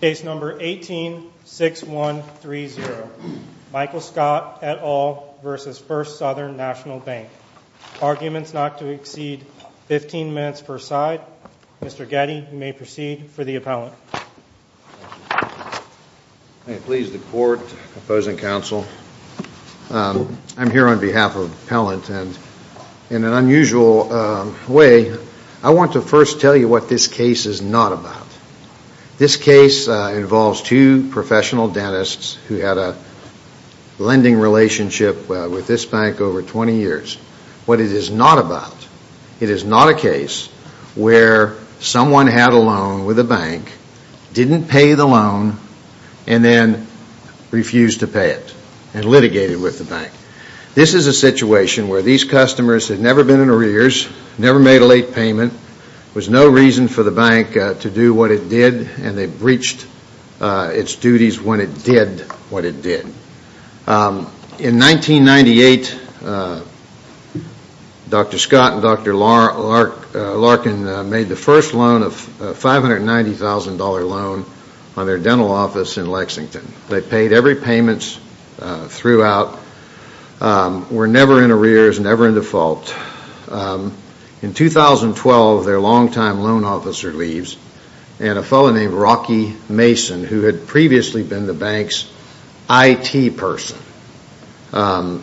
Case number 18-6130. Michael Scott et al. versus First Southern National Bank. Arguments not to exceed 15 minutes per side. Mr. Getty, you may proceed for the appellant. Please the court, opposing counsel, I'm here on behalf of the appellant and in an unusual way I want to first tell you what this case is not about. This case involves two professional dentists who had a lending relationship with this bank over 20 years. What it is not about, it is not a case where someone had a loan with a bank, didn't pay the loan, and then refused to pay it and litigated with the bank. This is a situation where these customers had never been in arrears, never made a late payment, was no reason for the bank to do what it did and they breached its duties when it did what it did. In 1998, Dr. Scott and Dr. Larkin made the first loan of $590,000 loan on their dental office in Lexington. They paid every payments throughout, were never in and a fellow named Rocky Mason, who had previously been the bank's IT person,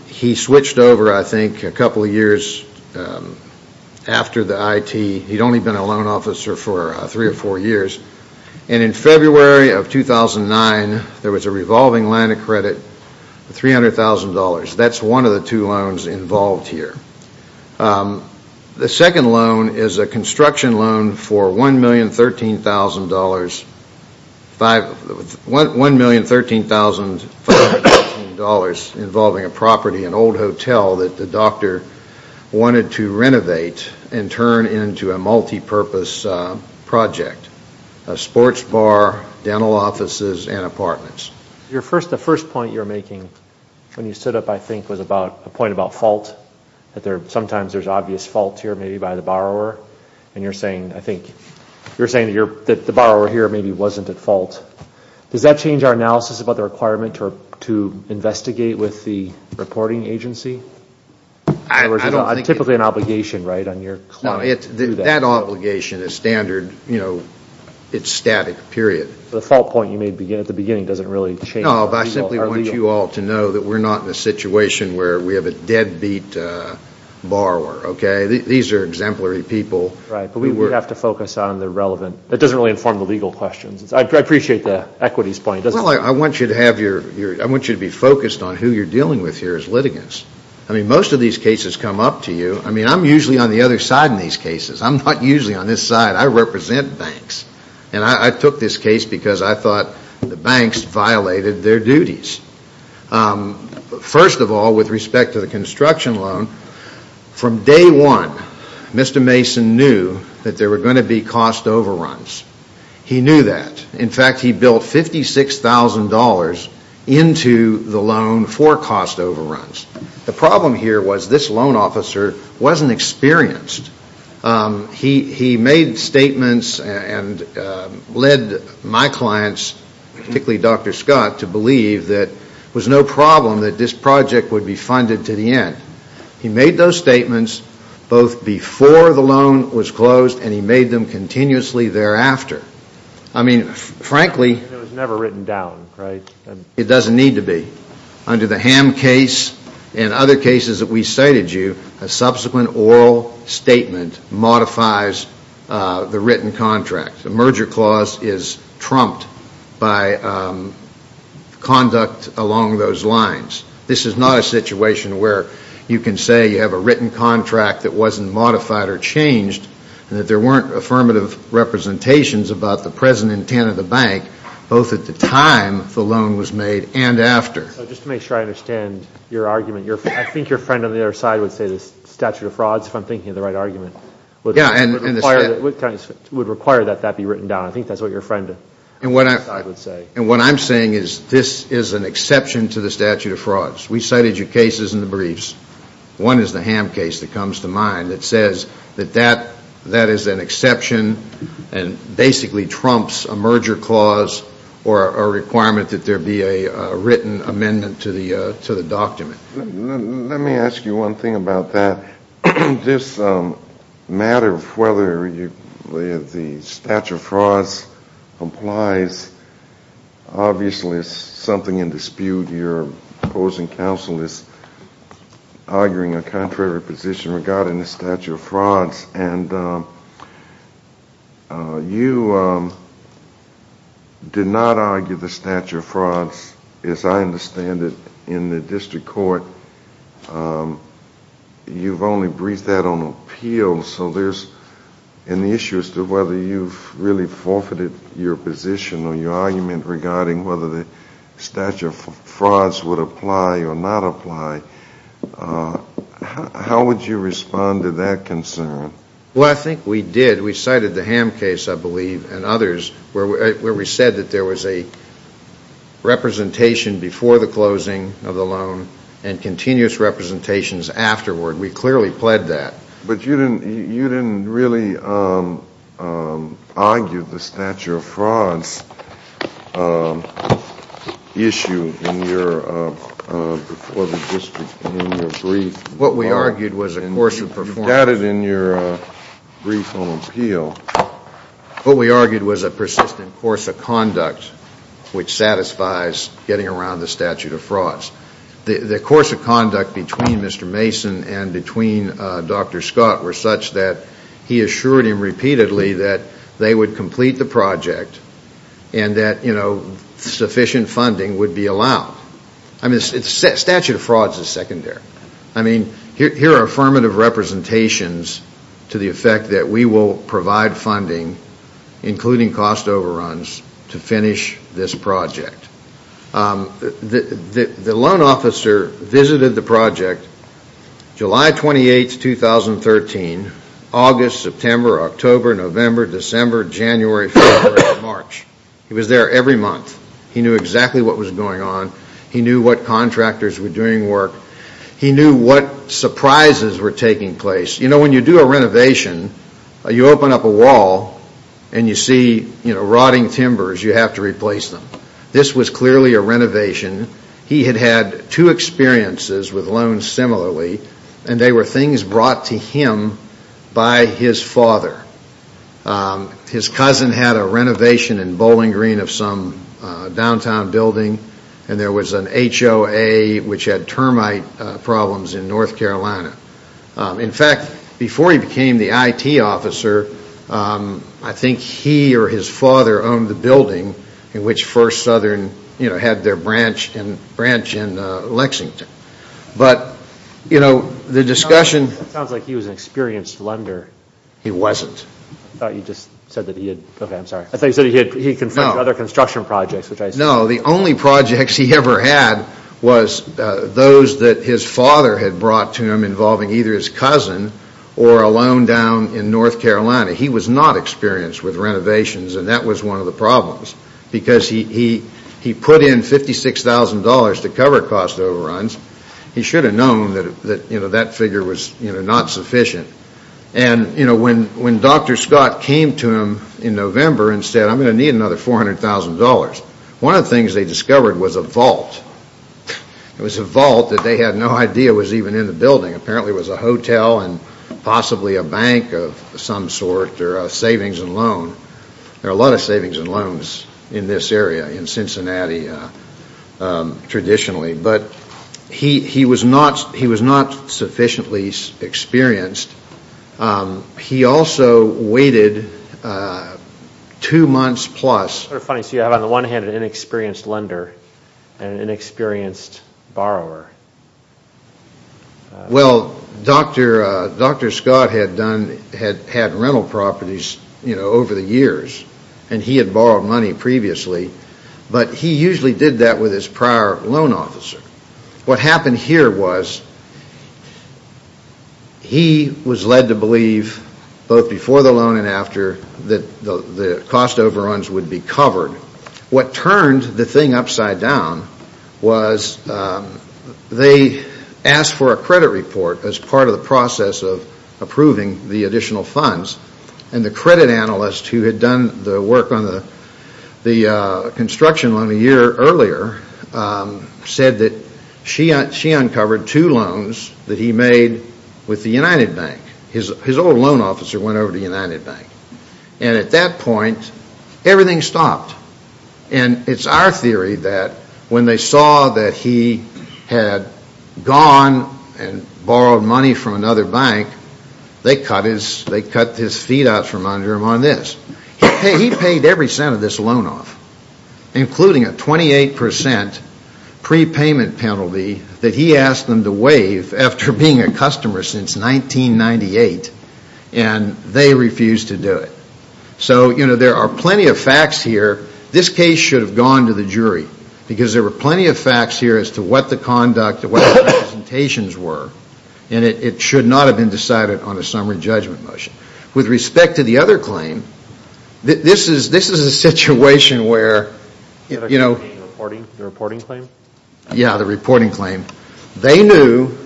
he switched over, I think, a couple years after the IT. He'd only been a loan officer for three or four years and in February of 2009, there was a revolving line of credit of $300,000. That's one of the two loans involved here. The second loan is a construction loan for $1,013,514 involving a property, an old hotel that the doctor wanted to renovate and turn into a multi-purpose project, a sports bar, dental offices, and apartments. The first point you're making when you stood up, I think, was about a point about fault, that sometimes there's obvious fault here, maybe by the borrower, and you're saying, I think, you're saying that the borrower here maybe wasn't at fault. Does that change our analysis about the requirement to investigate with the reporting agency? Typically an obligation, right? That obligation is standard, you know, it's static, period. The fault point you made at the beginning doesn't really change. No, but I simply want you all to know that we're not in a situation where we have a deadbeat borrower, okay? These are exemplary people. Right, but we have to focus on the relevant, that doesn't really inform the legal questions. I appreciate the equities point. Well, I want you to have your, I want you to be focused on who you're dealing with here as litigants. I mean, most of these cases come up to you. I mean, I'm usually on the other side in these cases. I'm not usually on this side. I represent banks, and I took this case because I thought the banks violated their duties. First of all, with respect to the construction loan, from day one, Mr. Mason knew that there were going to be cost overruns. He knew that. In fact, he built $56,000 into the loan for cost overruns. The problem here was this loan officer wasn't experienced. He made statements and led my clients, particularly Dr. Scott, to believe that it was no problem that this project would be funded to the end. He made those statements both before the loan was closed, and he made them continuously thereafter. I mean, frankly. It was never written down, right? It doesn't need to be. Under the Ham case and other cases that we cited you, a subsequent oral statement modifies the written contract. The merger clause is trumped by conduct along those lines. This is not a situation where you can say you have a written contract that wasn't modified or changed, and that there weren't affirmative representations about the present intent of the bank, both at the time the loan was made and after. Just to make sure I understand your argument, I think your friend on the other side would say the statute of frauds, if I'm thinking of the right argument, would require that that be written down. I think that's what your friend would say. What I'm saying is this is an exception to the statute of frauds. We cited your cases in the briefs. One is the Ham case that comes to mind that says that that a requirement that there be a written amendment to the to the document. Let me ask you one thing about that. This matter of whether the statute of frauds applies, obviously it's something in dispute. Your opposing counsel is arguing a contrary position regarding the statute of frauds and you did not argue the statute of frauds, as I understand it, in the district court. You've only briefed that on appeal, so there's an issue as to whether you've really forfeited your position or your argument regarding whether the statute of frauds would apply or not apply. How would you respond to that concern? Well, I think we did. We cited the Ham case, I believe, and others where we said that there was a representation before the closing of the loan and continuous representations afterward. We clearly pled that. But you didn't really argue the statute of frauds issue before the district and in your brief. What we argued was a course of performance. You doubted in your brief on appeal. What we argued was a persistent course of conduct which satisfies getting around the statute of frauds. The course of conduct between Mr. Mason and between Dr. Scott were such that he assured him repeatedly that they would complete the project and that sufficient funding would be allowed. I mean, the statute of frauds is secondary. I mean, here are affirmative representations to the effect that we will provide funding, including cost overruns, to finish this project. The loan officer visited the project July 28, 2013, August, September, October, November, December, January, February, March. He was there every month. He knew exactly what was going on. He knew what contractors were doing work. He knew what surprises were taking place. You know, when you do a renovation, you open up a wall and you see, you know, rotting timbers. You have to replace them. This was clearly a renovation. He had had two experiences with loans similarly and they were things brought to him by his father. His cousin had a renovation in Bowling Green of some downtown building and there was an HOA which had termite problems in fact, before he became the IT officer, I think he or his father owned the building in which First Southern, you know, had their branch in Lexington. But, you know, the discussion. It sounds like he was an experienced lender. He wasn't. I thought you just said that he had, okay, I'm sorry. I thought you said he confronted other construction projects. No, the only projects he ever had was those that his cousin or a loan down in North Carolina. He was not experienced with renovations and that was one of the problems because he put in $56,000 to cover cost overruns. He should have known that, you know, that figure was, you know, not sufficient. And, you know, when Dr. Scott came to him in November and said, I'm going to need another $400,000, one of the things they discovered was a vault. It was a vault that they had no idea was even in the building. Apparently it was a hotel and possibly a bank of some sort or a savings and loan. There are a lot of savings and loans in this area, in Cincinnati, traditionally. But he was not sufficiently experienced. He also waited two months plus. So you have on the one hand an inexperienced lender and an inexperienced borrower. Well, Dr. Scott had done, had had rental properties, you know, over the years and he had borrowed money previously, but he usually did that with his prior loan officer. What happened here was he was led to believe, both before the loan and after the loan were uncovered, what turned the thing upside down was they asked for a credit report as part of the process of approving the additional funds and the credit analyst who had done the work on the construction loan a year earlier said that she uncovered two loans that he made with the United Bank. His old loan officer went over to the United Bank. And at that point, everything stopped. And it's our theory that when they saw that he had gone and borrowed money from another bank, they cut his feet out from under him on this. He paid every cent of this loan off, including a 28% prepayment penalty that he asked them to waive after being a customer since 1998, and they refused to do it. So, you know, there are plenty of facts here. This case should have gone to the jury, because there were plenty of facts here as to what the conduct, what the representations were, and it should not have been decided on a summary judgment motion. With respect to the other claim, this is, this is a situation where, you know, the reporting claim? Yeah, the reporting claim. They knew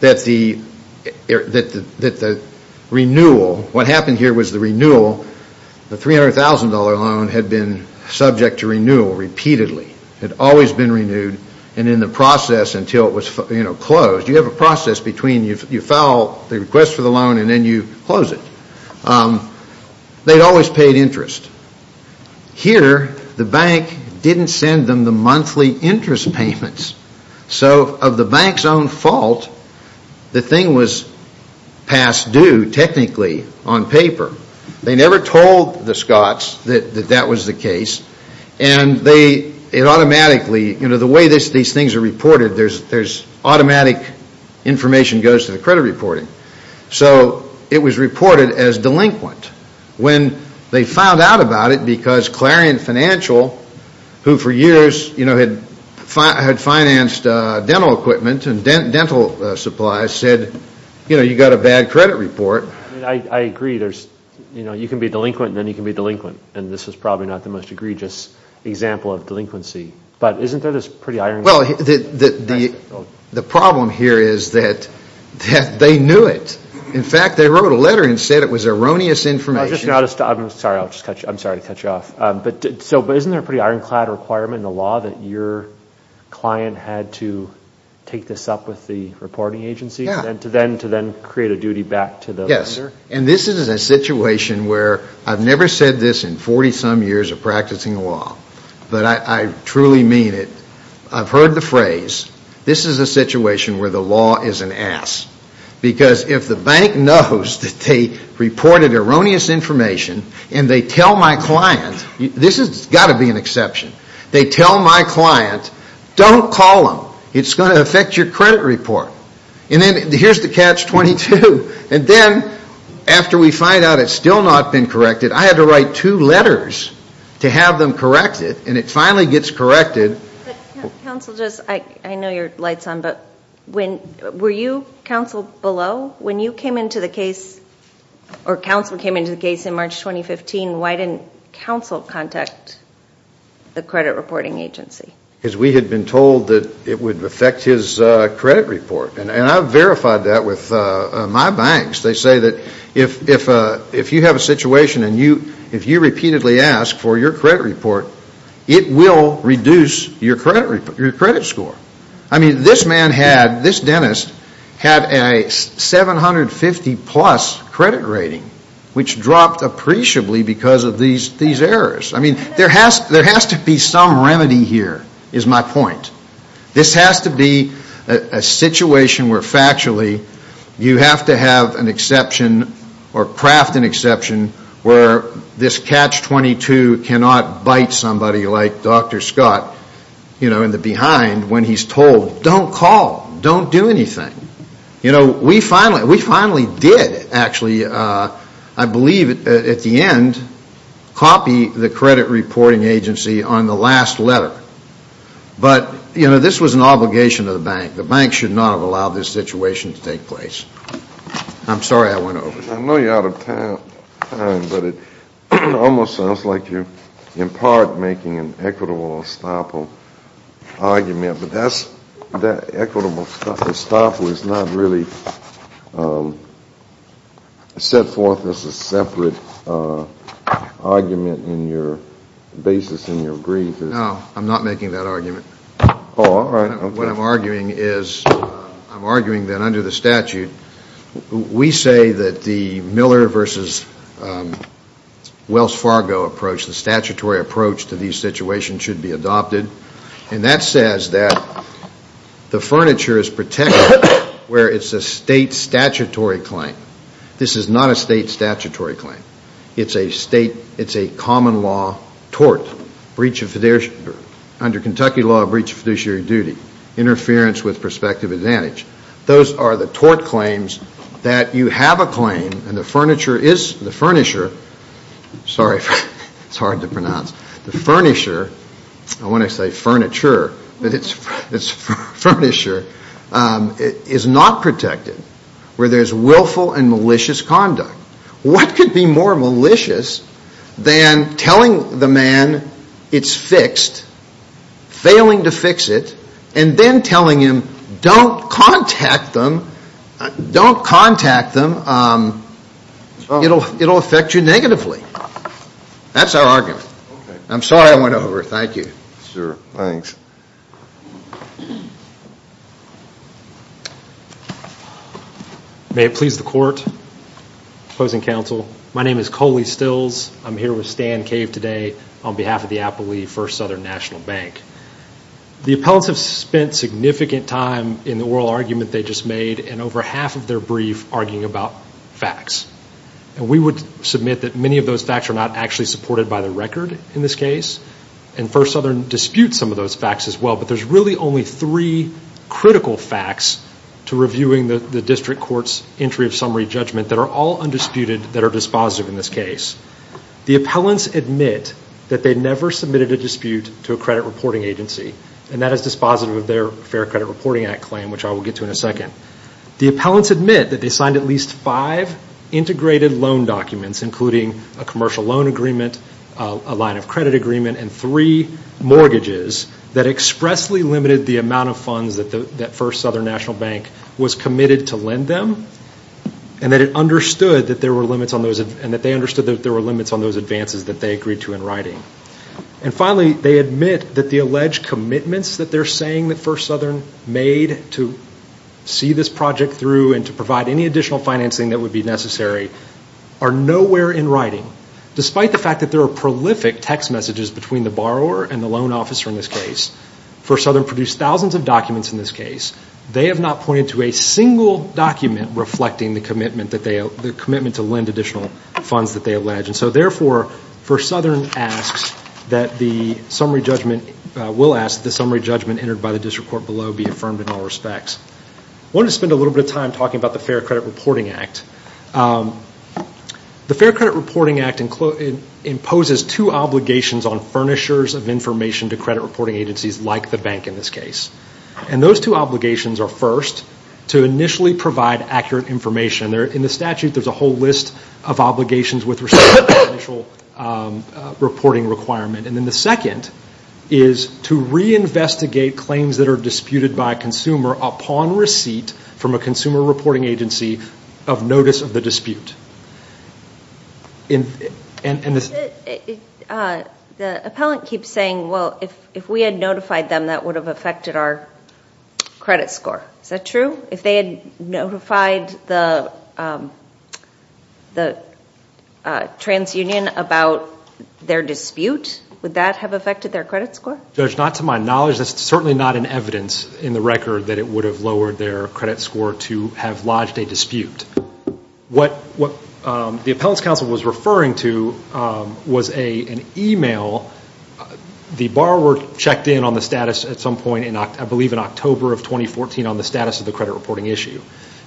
that the, that the renewal, what happened here was the renewal, the $300,000 loan had been subject to renewal repeatedly, had always been renewed, and in the process until it was, you know, closed. You have a process between you file the request for the loan and then you close it. They'd always paid interest. Here, the bank didn't send them the monthly interest payments. So, of the bank's own fault, the thing was past due, technically, on paper. They never told the Scots that, that that was the case, and they, it automatically, you know, the way this, these things are reported, there's, there's automatic information goes to the credit reporting. So, it was reported as delinquent. When they found out about it, because Clarion Financial, who for years, you know, had financed dental equipment and dental supplies, said, you know, you got a bad credit report. I agree, there's, you know, you can be delinquent and then you can be delinquent, and this is probably not the most egregious example of delinquency, but isn't there this pretty irony? Well, the problem here is that they knew it. In fact, they wrote a letter and said it was erroneous information. I'm sorry, I'll just, I'm just, so, but isn't there a pretty ironclad requirement in the law that your client had to take this up with the reporting agency, and to then, to then create a duty back to the lender? Yes, and this is a situation where, I've never said this in 40-some years of practicing law, but I, I truly mean it. I've heard the phrase, this is a situation where the law is an ass, because if the bank knows that they reported erroneous information, and they tell my client, this has got to be an exception, they tell my client, don't call them, it's going to affect your credit report. And then, here's the catch-22, and then, after we find out it's still not been corrected, I had to write two letters to have them correct it, and it finally gets corrected. Counsel, just, I know your light's on, but when you came into the case, or counsel came into the case in March 2015, why didn't counsel contact the credit reporting agency? Because we had been told that it would affect his credit report, and I've verified that with my banks. They say that if, if, if you have a situation, and you, if you repeatedly ask for your credit report, it will reduce your credit, your credit score. I mean, this man had, this dentist, had a 750 plus credit rating, which dropped appreciably because of these, these errors. I mean, there has, there has to be some remedy here, is my point. This has to be a, a situation where factually, you have to have an exception, or craft an exception, where this catch-22 cannot bite somebody like Dr. Scott, you know, in the behind when he's told, don't call, don't do anything. You know, we finally, we finally did, actually, I believe, at the end, copy the credit reporting agency on the last letter. But, you know, this was an obligation of the bank. The bank should not have allowed this situation to take place. I'm sorry I went over. I know you're out of time, but it almost sounds like you're, in an equitable estoppel argument, but that's, that equitable estoppel is not really set forth as a separate argument in your basis in your brief. No, I'm not making that argument. Oh, all right. What I'm arguing is, I'm arguing that under the statute, we say that the Miller versus Wells Fargo approach, the statutory approach to these situations, should be adopted. And that says that the furniture is protected where it's a state statutory claim. This is not a state statutory claim. It's a state, it's a common law tort, breach of fiduciary, under Kentucky law, a breach of fiduciary duty, interference with prospective advantage. Those are the tort claims that you have a claim, and the furniture is, the furniture, I want to say furniture, but it's, it's furniture, is not protected where there's willful and malicious conduct. What could be more malicious than telling the man it's fixed, failing to fix it, and then telling him don't contact them, don't contact them, it'll, it'll affect you negatively. That's our argument. I'm sorry I went over, thank you. Sure, thanks. May it please the court, opposing counsel, my name is Coley Stills. I'm here with Stan Cave today on behalf of the Appleby First Southern National Bank. The appellants have spent significant time in the oral argument they just made, and over half of their brief arguing about facts. And we would submit that many of those facts are not actually supported by the record in this case, and First Southern disputes some of those facts as well, but there's really only three critical facts to reviewing the district court's entry of summary judgment that are all undisputed, that are dispositive in this case. The appellants admit that they never submitted a dispute to a credit reporting agency, and that is dispositive of their Fair Credit Reporting Act claim, which I will get to in a second. The appellants admit that they signed at least five integrated loan documents, including a commercial loan agreement, a line of credit agreement, and three mortgages that expressly limited the amount of funds that the First Southern National Bank was committed to lend them, and that it understood that there were limits on those, and that they understood that there were limits on those advances that they agreed to in writing. And finally, they admit that the alleged commitments that they're saying that First Southern made to see this project through, and to provide any additional financing that would be necessary, are nowhere in writing, despite the fact that there are prolific text messages between the borrower and the loan officer in this case. First Southern produced thousands of documents in this case. They have not pointed to a single document reflecting the commitment that they, the commitment to lend additional funds that they allege, and so therefore, First Southern asks that the summary judgment, will ask the summary judgment entered by the district court below be affirmed in all respects. I wanted to spend a little bit of time talking about the Fair Credit Reporting Act. The Fair Credit Reporting Act imposes two obligations on furnishers of information to credit reporting agencies, like the bank in this case. And those two obligations are first, to initially provide accurate information. In the statute, there's a whole list of obligations with respect to the initial reporting requirement. And then the second is to reinvestigate claims that are disputed by a consumer upon receipt from a consumer reporting agency of notice of the dispute. The appellant keeps saying, well if we had notified them, that would have affected our credit score. Is that true? If they had notified the TransUnion about their dispute, would that have affected their credit score? Judge, not to my knowledge. That's certainly not in evidence in the record that it would have lowered their credit score to have lodged a dispute. What the appellant's counsel was referring to was an email. The borrower checked in on the status at some point, I believe in October of 2014, on the status of the credit reporting issue.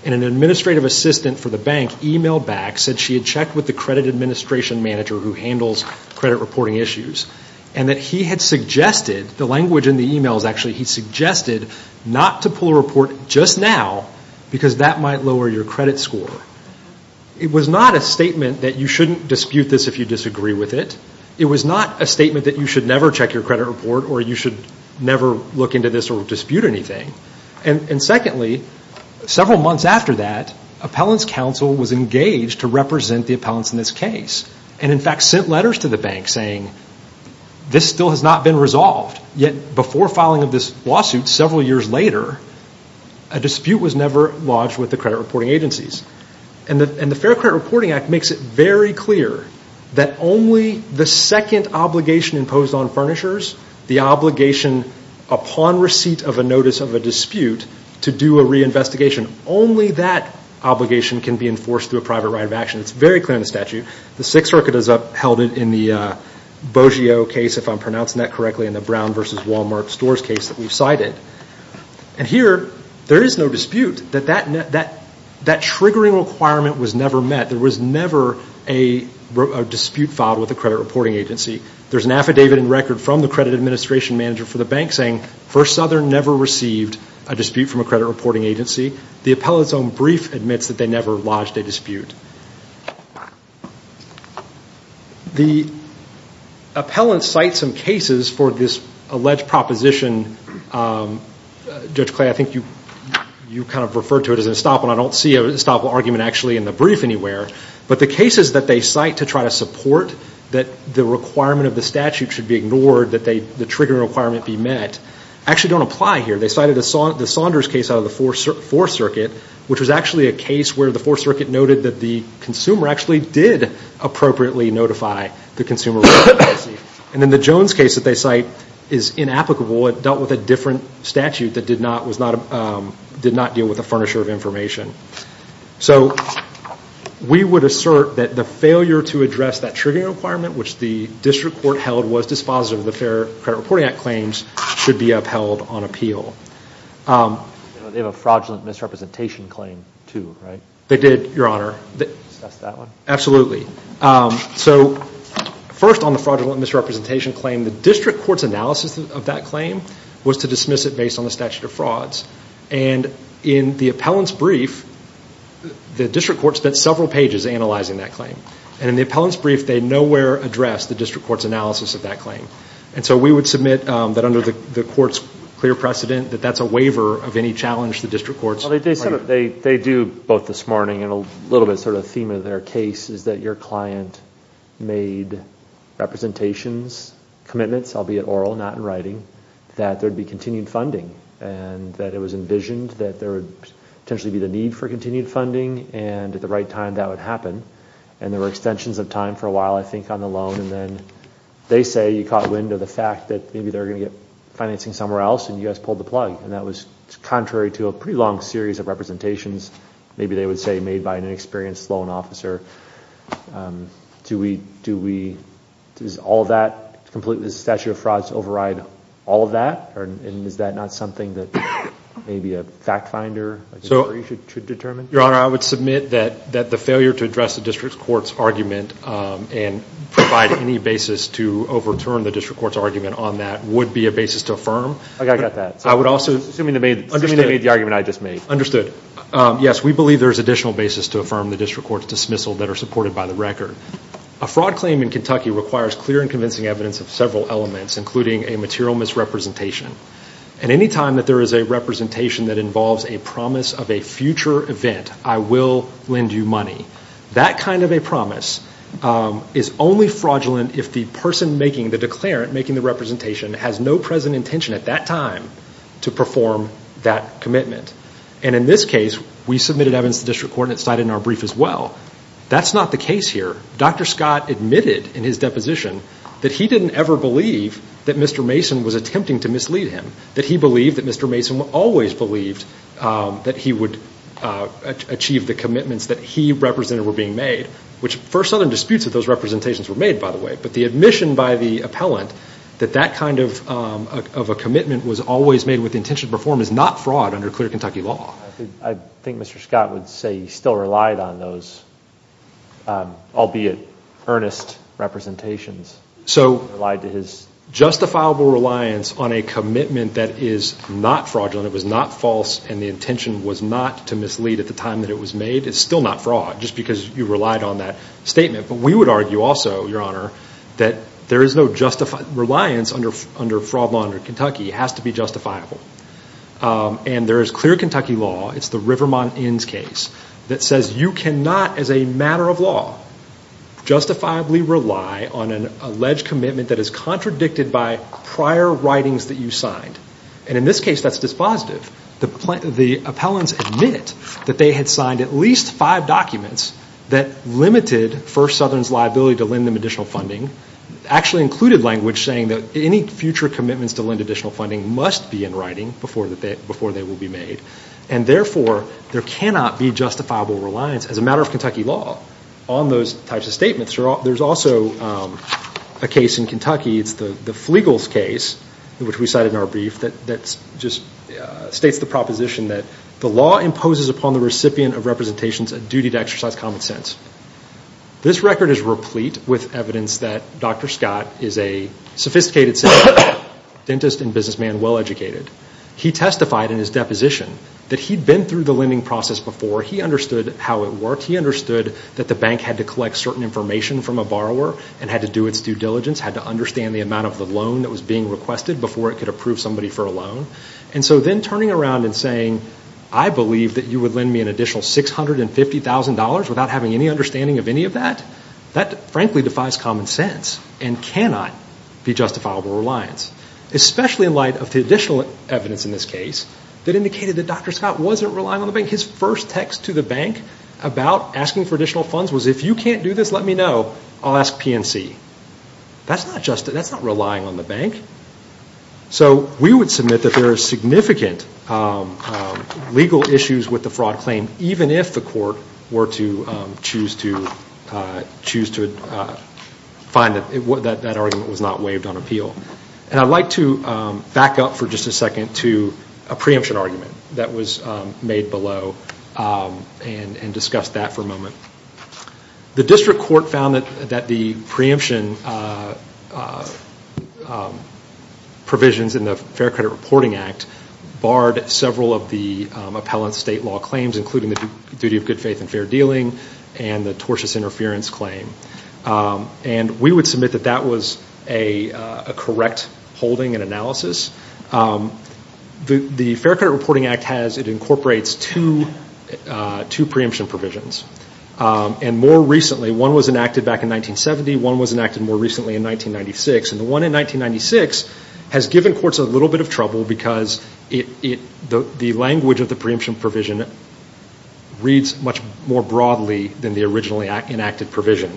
And an administrative assistant for the bank emailed back, said she had checked with the credit administration manager who handles credit reporting issues. And that he had suggested, the language in the email is actually, he should check your credit report just now because that might lower your credit score. It was not a statement that you shouldn't dispute this if you disagree with it. It was not a statement that you should never check your credit report or you should never look into this or dispute anything. And secondly, several months after that, appellant's counsel was engaged to represent the appellants in this case. And in fact, sent letters to the bank saying, this still has not been resolved. Yet before filing of this lawsuit, several years later, a dispute was never lodged with the credit reporting agencies. And the Fair Credit Reporting Act makes it very clear that only the second obligation imposed on furnishers, the obligation upon receipt of a notice of a dispute to do a reinvestigation, only that obligation can be enforced through a private right of action. It's very clear in the statute. The Sixth Circuit has upheld it in the Brown versus Wal-Mart stores case that we've cited. And here, there is no dispute. That triggering requirement was never met. There was never a dispute filed with a credit reporting agency. There's an affidavit in record from the credit administration manager for the bank saying, First Southern never received a dispute from a credit reporting agency. The appellant's own cases for this alleged proposition, Judge Clay, I think you kind of referred to it as an estoppel. I don't see an estoppel argument actually in the brief anywhere. But the cases that they cite to try to support that the requirement of the statute should be ignored, that the triggering requirement be met, actually don't apply here. They cited the Saunders case out of the Fourth Circuit, which was actually a case where the Fourth Circuit noted that the consumer actually did appropriately notify the consumer. And then the Jones case that they cite is inapplicable. It dealt with a different statute that did not deal with a furnisher of information. So we would assert that the failure to address that triggering requirement, which the district court held was dispositive of the Fair Credit Reporting Act claims, should be upheld on appeal. They have a fraudulent misrepresentation claim too, right? They did, Your Honor. Absolutely. So first on the fraudulent misrepresentation claim, the district court's analysis of that claim was to dismiss it based on the statute of frauds. And in the appellant's brief, the district court spent several pages analyzing that claim. And in the appellant's brief, they nowhere addressed the district court's analysis of that claim. And so we would submit that under the court's clear precedent, that that's a waiver of any challenge the district court's... Well, they do, both this morning and a little bit sort of theme of their case, is that your client made representations, commitments, albeit oral, not in writing, that there'd be continued funding. And that it was envisioned that there would potentially be the need for continued funding, and at the right time that would happen. And there were extensions of time for a while, I think, on the loan. And then they say you caught wind of the fact that maybe they're going to get financing somewhere else, and you guys pulled the plug. And that was contrary to a pretty long series of representations. Maybe they would say made by an inexperienced loan officer. Do we... Does all that completely... Does the statute of frauds override all of that? And is that not something that maybe a fact finder should determine? Your Honor, I would submit that the failure to address the district court's argument and provide any basis to overturn the district court's argument on that would be a basis to affirm. I got that. I would also... Assuming they made the argument I just made. Understood. Yes, we believe there's additional basis to affirm the district court's dismissal that are supported by the record. A fraud claim in Kentucky requires clear and convincing evidence of several elements, including a material misrepresentation. And any time that there is a representation that involves a promise of a future event, I will lend you money, that kind of a fraudulent if the person making the declarant, making the representation, has no present intention at that time to perform that commitment. And in this case, we submitted evidence to the district court and it's cited in our brief as well. That's not the case here. Dr. Scott admitted in his deposition that he didn't ever believe that Mr. Mason was attempting to mislead him. That he believed that Mr. Mason always believed that he would achieve the commitments that he represented were being made, which first other disputes of those representations were made, by the way. But the admission by the appellant that that kind of a commitment was always made with the intention to perform is not fraud under clear Kentucky law. I think Mr. Scott would say he still relied on those, albeit earnest representations. So... Relied to his... Justifiable reliance on a commitment that is not fraudulent, it was not false, and the intention was not to mislead at the time that it was made is still not fraud, just because you relied on that statement. But we would argue also, Your Honor, that there is no justified... Reliance under fraud law under Kentucky has to be justifiable. And there is clear Kentucky law, it's the Rivermont Inns case, that says you cannot as a matter of law justifiably rely on an alleged commitment that is contradicted by prior writings that you signed. And in this case, that's dispositive. The appellants admit that they had signed at least five documents that limited First Southern's liability to lend them additional funding, actually included language saying that any future commitments to lend additional funding must be in writing before they will be made. And therefore, there cannot be justifiable reliance as a matter of Kentucky law on those types of statements. There's also a case in Kentucky, it's the Flegel's case, which we cited in our brief, that just states the proposition that the law imposes upon the recipient of representations a duty to exercise common sense. This record is replete with evidence that Dr. Scott is a sophisticated citizen, dentist and businessman, well-educated. He testified in his deposition that he'd been through the lending process before, he understood how it worked, he understood that the bank had to collect certain information from a borrower and had to do its due diligence, had to understand the amount of the loan that was being requested before it could approve somebody for a loan. And so then turning around and saying, I believe that you would lend me an additional $650,000 without having any understanding of any of that, that frankly defies common sense and cannot be justifiable reliance, especially in light of the additional evidence in this case that indicated that Dr. Scott wasn't relying on the bank. His first text to the bank about asking for additional funds was, if you can't do this, let me know, I'll ask PNC. That's not just, that's not relying on the bank. So we would submit that there are significant legal issues with the fraud claim, even if the court were to choose to find that that argument was not waived on appeal. And I'd like to back up for just a second to a preemption argument that was made below and discuss that for a moment. The district court found that the preemption provisions in the Fair Credit Reporting Act barred several of the appellant's state law claims, including the duty of good faith and fair dealing and the tortious interference claim. And we would submit that that was a correct holding and analysis. The Fair Credit Reporting Act has, it incorporates two preemption provisions. And more recently, one was enacted back in 1970, one was enacted more recently in 1996. And the one in 1996 has given courts a little bit of trouble because it, the language of the preemption provision reads much more broadly than the originally enacted provision.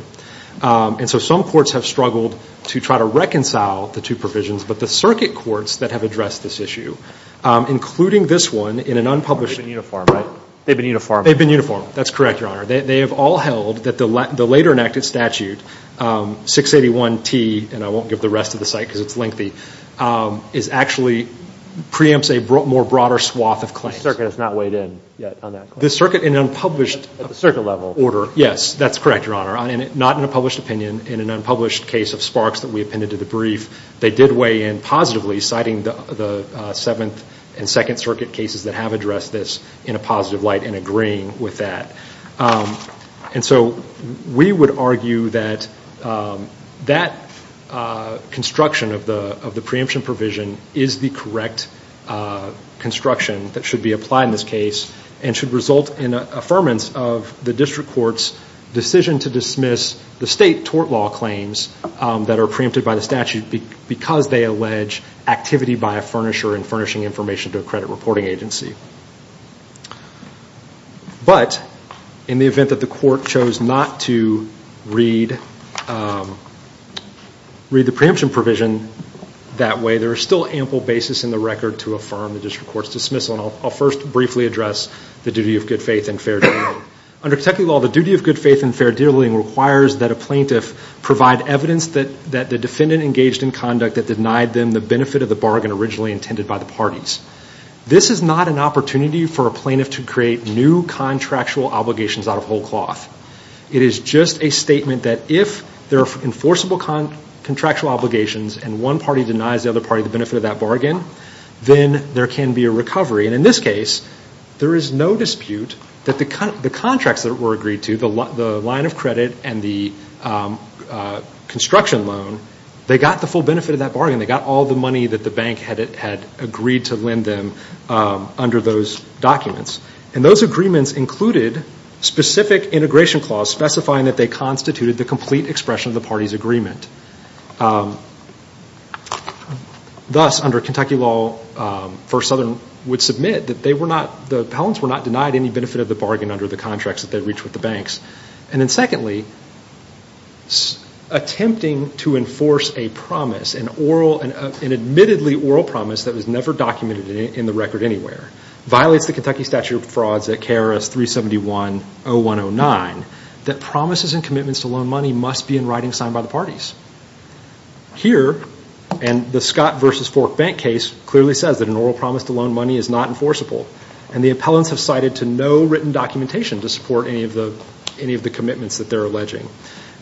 And so some courts have struggled to try to reconcile the two provisions, but the circuit courts that have addressed this issue, including this one in an unpublished... That's correct, Your Honor. They have all held that the later enacted statute, 681T, and I won't give the rest of the site because it's lengthy, is actually, preempts a more broader swath of claims. The circuit has not weighed in yet on that claim. The circuit in an unpublished... At the circuit level. Order. Yes, that's correct, Your Honor. Not in a published opinion, in an unpublished case of Sparks that we appended to the brief, they did weigh in positively, citing the Seventh and Second Circuit cases that have addressed this in a positive light and agreeing with that. And so we would argue that that construction of the preemption provision is the correct construction that should be applied in this case and should result in an affirmance of the district court's decision to dismiss the state tort law claims that are preempted by the statute because they allege activity by a furnisher in furnishing information to a credit reporting agency. But in the event that the court chose not to read the preemption provision that way, there is still ample basis in the record to affirm the district court's dismissal. And I'll first briefly address the duty of good faith and fair dealing. Under Kentucky law, the duty of good faith and fair dealing requires that a plaintiff provide evidence that the defendant engaged in conduct that denied them the benefit of the bargain by the parties. This is not an opportunity for a plaintiff to create new contractual obligations out of whole cloth. It is just a statement that if there are enforceable contractual obligations and one party denies the other party the benefit of that bargain, then there can be a recovery. And in this case, there is no dispute that the contracts that were agreed to, the line of credit and the construction loan, they got the full benefit of that bargain. They got all the money that the bank had agreed to lend them under those documents. And those agreements included specific integration clause specifying that they constituted the complete expression of the party's agreement. Thus, under Kentucky law, First Southern would submit that they were not, the Pellants were not denied any benefit of the bargain under the contracts that they reached with the banks. And then secondly, attempting to enforce a promise, an admittedly oral promise that was never documented in the record anywhere, violates the Kentucky statute of frauds at KRS 371-0109 that promises and commitments to loan money must be in writing signed by the parties. Here, and the Scott versus Fork Bank case clearly says that an oral promise to loan money is not enforceable. And the appellants have cited to no written documentation to support any of the commitments that they're alleging.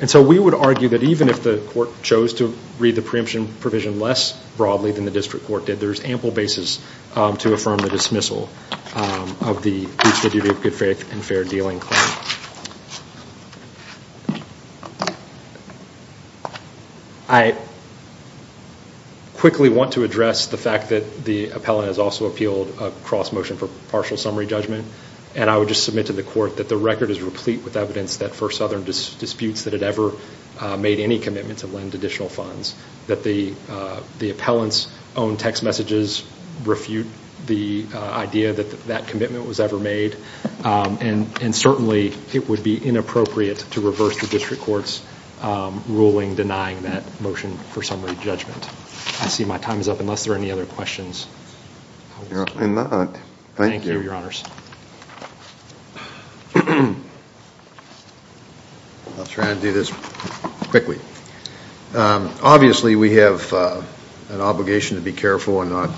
And so we would argue that even if the court chose to read the preemption provision less broadly than the district court did, there's ample basis to affirm the dismissal of the duty of good faith and fair dealing. I quickly want to address the fact that the appellant has also appealed a cross motion for partial summary judgment. And I would just submit to the court that the record is replete with evidence that for Southern disputes that had ever made any commitment to lend additional funds, that the appellants' own text messages refute the idea that that commitment was ever made. And certainly it would be inappropriate to reverse the district court's ruling denying that motion for summary judgment. I see my time is up unless there are any other questions. Thank you, Your Honors. I'll try and do this quickly. Obviously we have an obligation to be careful and not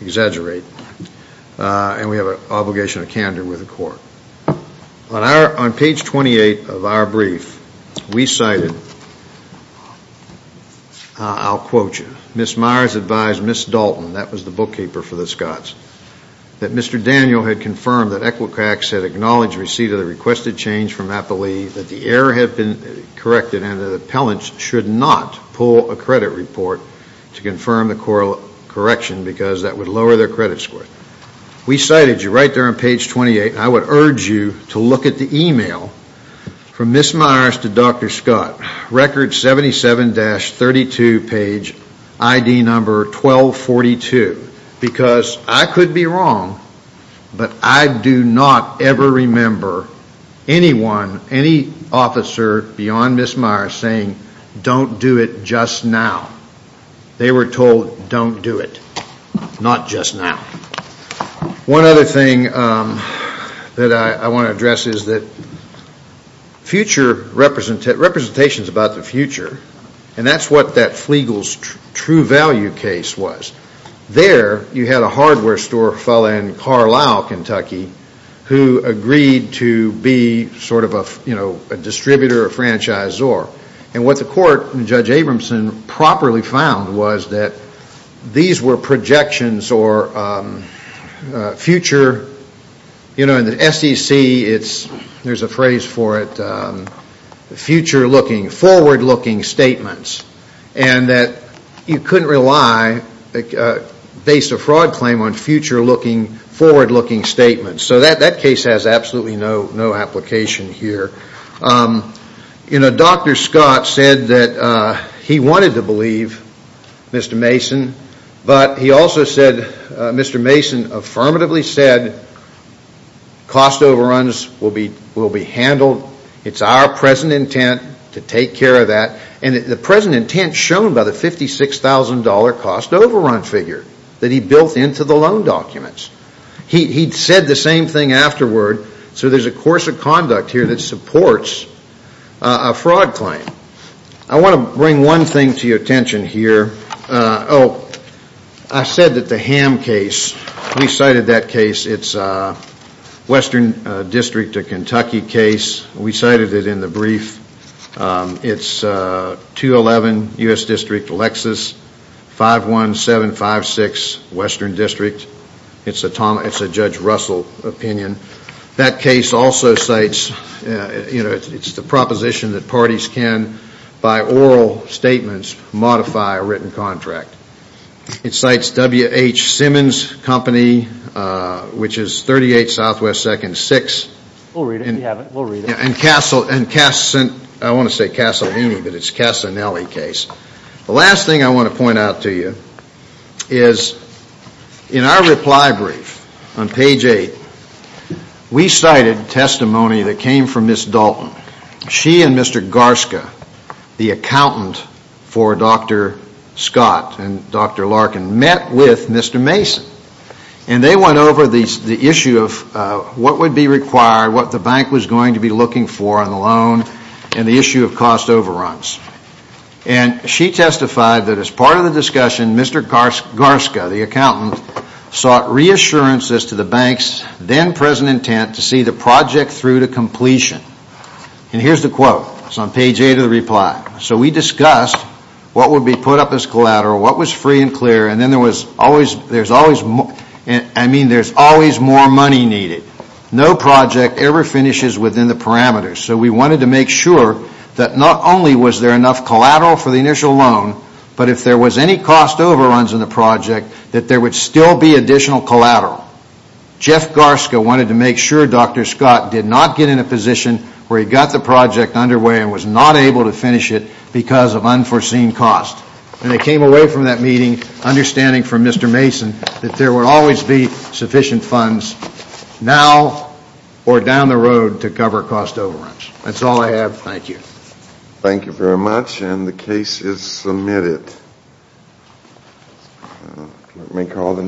exaggerate. And we have an obligation to candor with the court. On our, on page 28 of our brief, we cited, I'll quote you, Ms. Meyers advised Ms. Dalton, that was the bookkeeper for the Scots, that Mr. Daniel had confirmed that Equifax had acknowledged receipt of the requested change from Appalee, that the error had been corrected, and that the appellants should not pull a credit report to confirm the correction because that would lower their credit score. We cited you right there on page 28. I would urge you to look at the email from Ms. Meyers to Dr. Scott, record 77-32, page ID number 1242, because I could be wrong, but I do not ever remember anyone, any officer beyond Ms. Meyers saying, don't do it just now. They were told, don't do it, not just now. One other thing that I want to address is that future represent, representations about the future, and that's what that Flegel's true value case was. There you had a hardware store fella in Carlisle, Kentucky who agreed to be sort of a, you know, a distributor or a franchisor. And what the court and Judge Abramson properly found was that these were projections or future, you know, in the SEC, it's, there's a phrase for it, future looking, forward looking statements, and that you couldn't rely based a fraud claim on future looking, forward looking statements. So that, that case has absolutely no, no application here. You know, Dr. Scott said that he wanted to believe Mr. Mason, but he also said, Mr. Mason affirmatively said cost overruns will be, will be handled. It's our present intent to take care of that. And the present intent shown by the $56,000 cost overrun figure that he built into the loan documents. He said the same thing afterward. So there's a course of conduct here that supports a fraud claim. I want to bring one thing to your attention here. Oh, I said that the Ham case, we cited that case. It's a Western District of Kentucky case. We cited it in the brief. It's a 211 U.S. District, Lexus, 51756 Western District. It's a Tom, it's a Judge Russell opinion. That case also cites, you know, it's the proposition that parties can, by oral statements, modify a written contract. It cites WH Simmons Company, which is 38 Southwest 2nd, 6. We'll read it if you haven't, we'll read it. And Castle, I want to say Castellini, but it's Castellini case. The last thing I want to point out to you is in our reply brief on page eight, we cited testimony that came from Ms. Dalton. She and Mr. Garska, the accountant for Dr. Scott and Dr. Larkin, met with Mr. Mason and they went over the issue of what would be required, what the bank was going to be looking for on the loan, and the issue of cost overruns. And she testified that as part of the discussion, Mr. Garska, the accountant, sought reassurances to the bank's then present intent to see the project through to completion. And here's the quote, it's on page eight of the reply. So we discussed what would be put up as collateral, what was free and clear. And then there was always, there's always, I mean, there's always more money needed. No project ever finishes within the parameters. So we wanted to make sure that not only was there enough collateral for the initial loan, but if there was any cost overruns in the project, that there would still be additional collateral. Jeff Garska wanted to make sure Dr. Scott did not get in a position where he got the project underway and was not able to finish it because of unforeseen cost. And they came away from that meeting understanding from Mr. Now or down the road to cover cost overruns. That's all I have. Thank you. Thank you very much. And the case is submitted. Let me call the.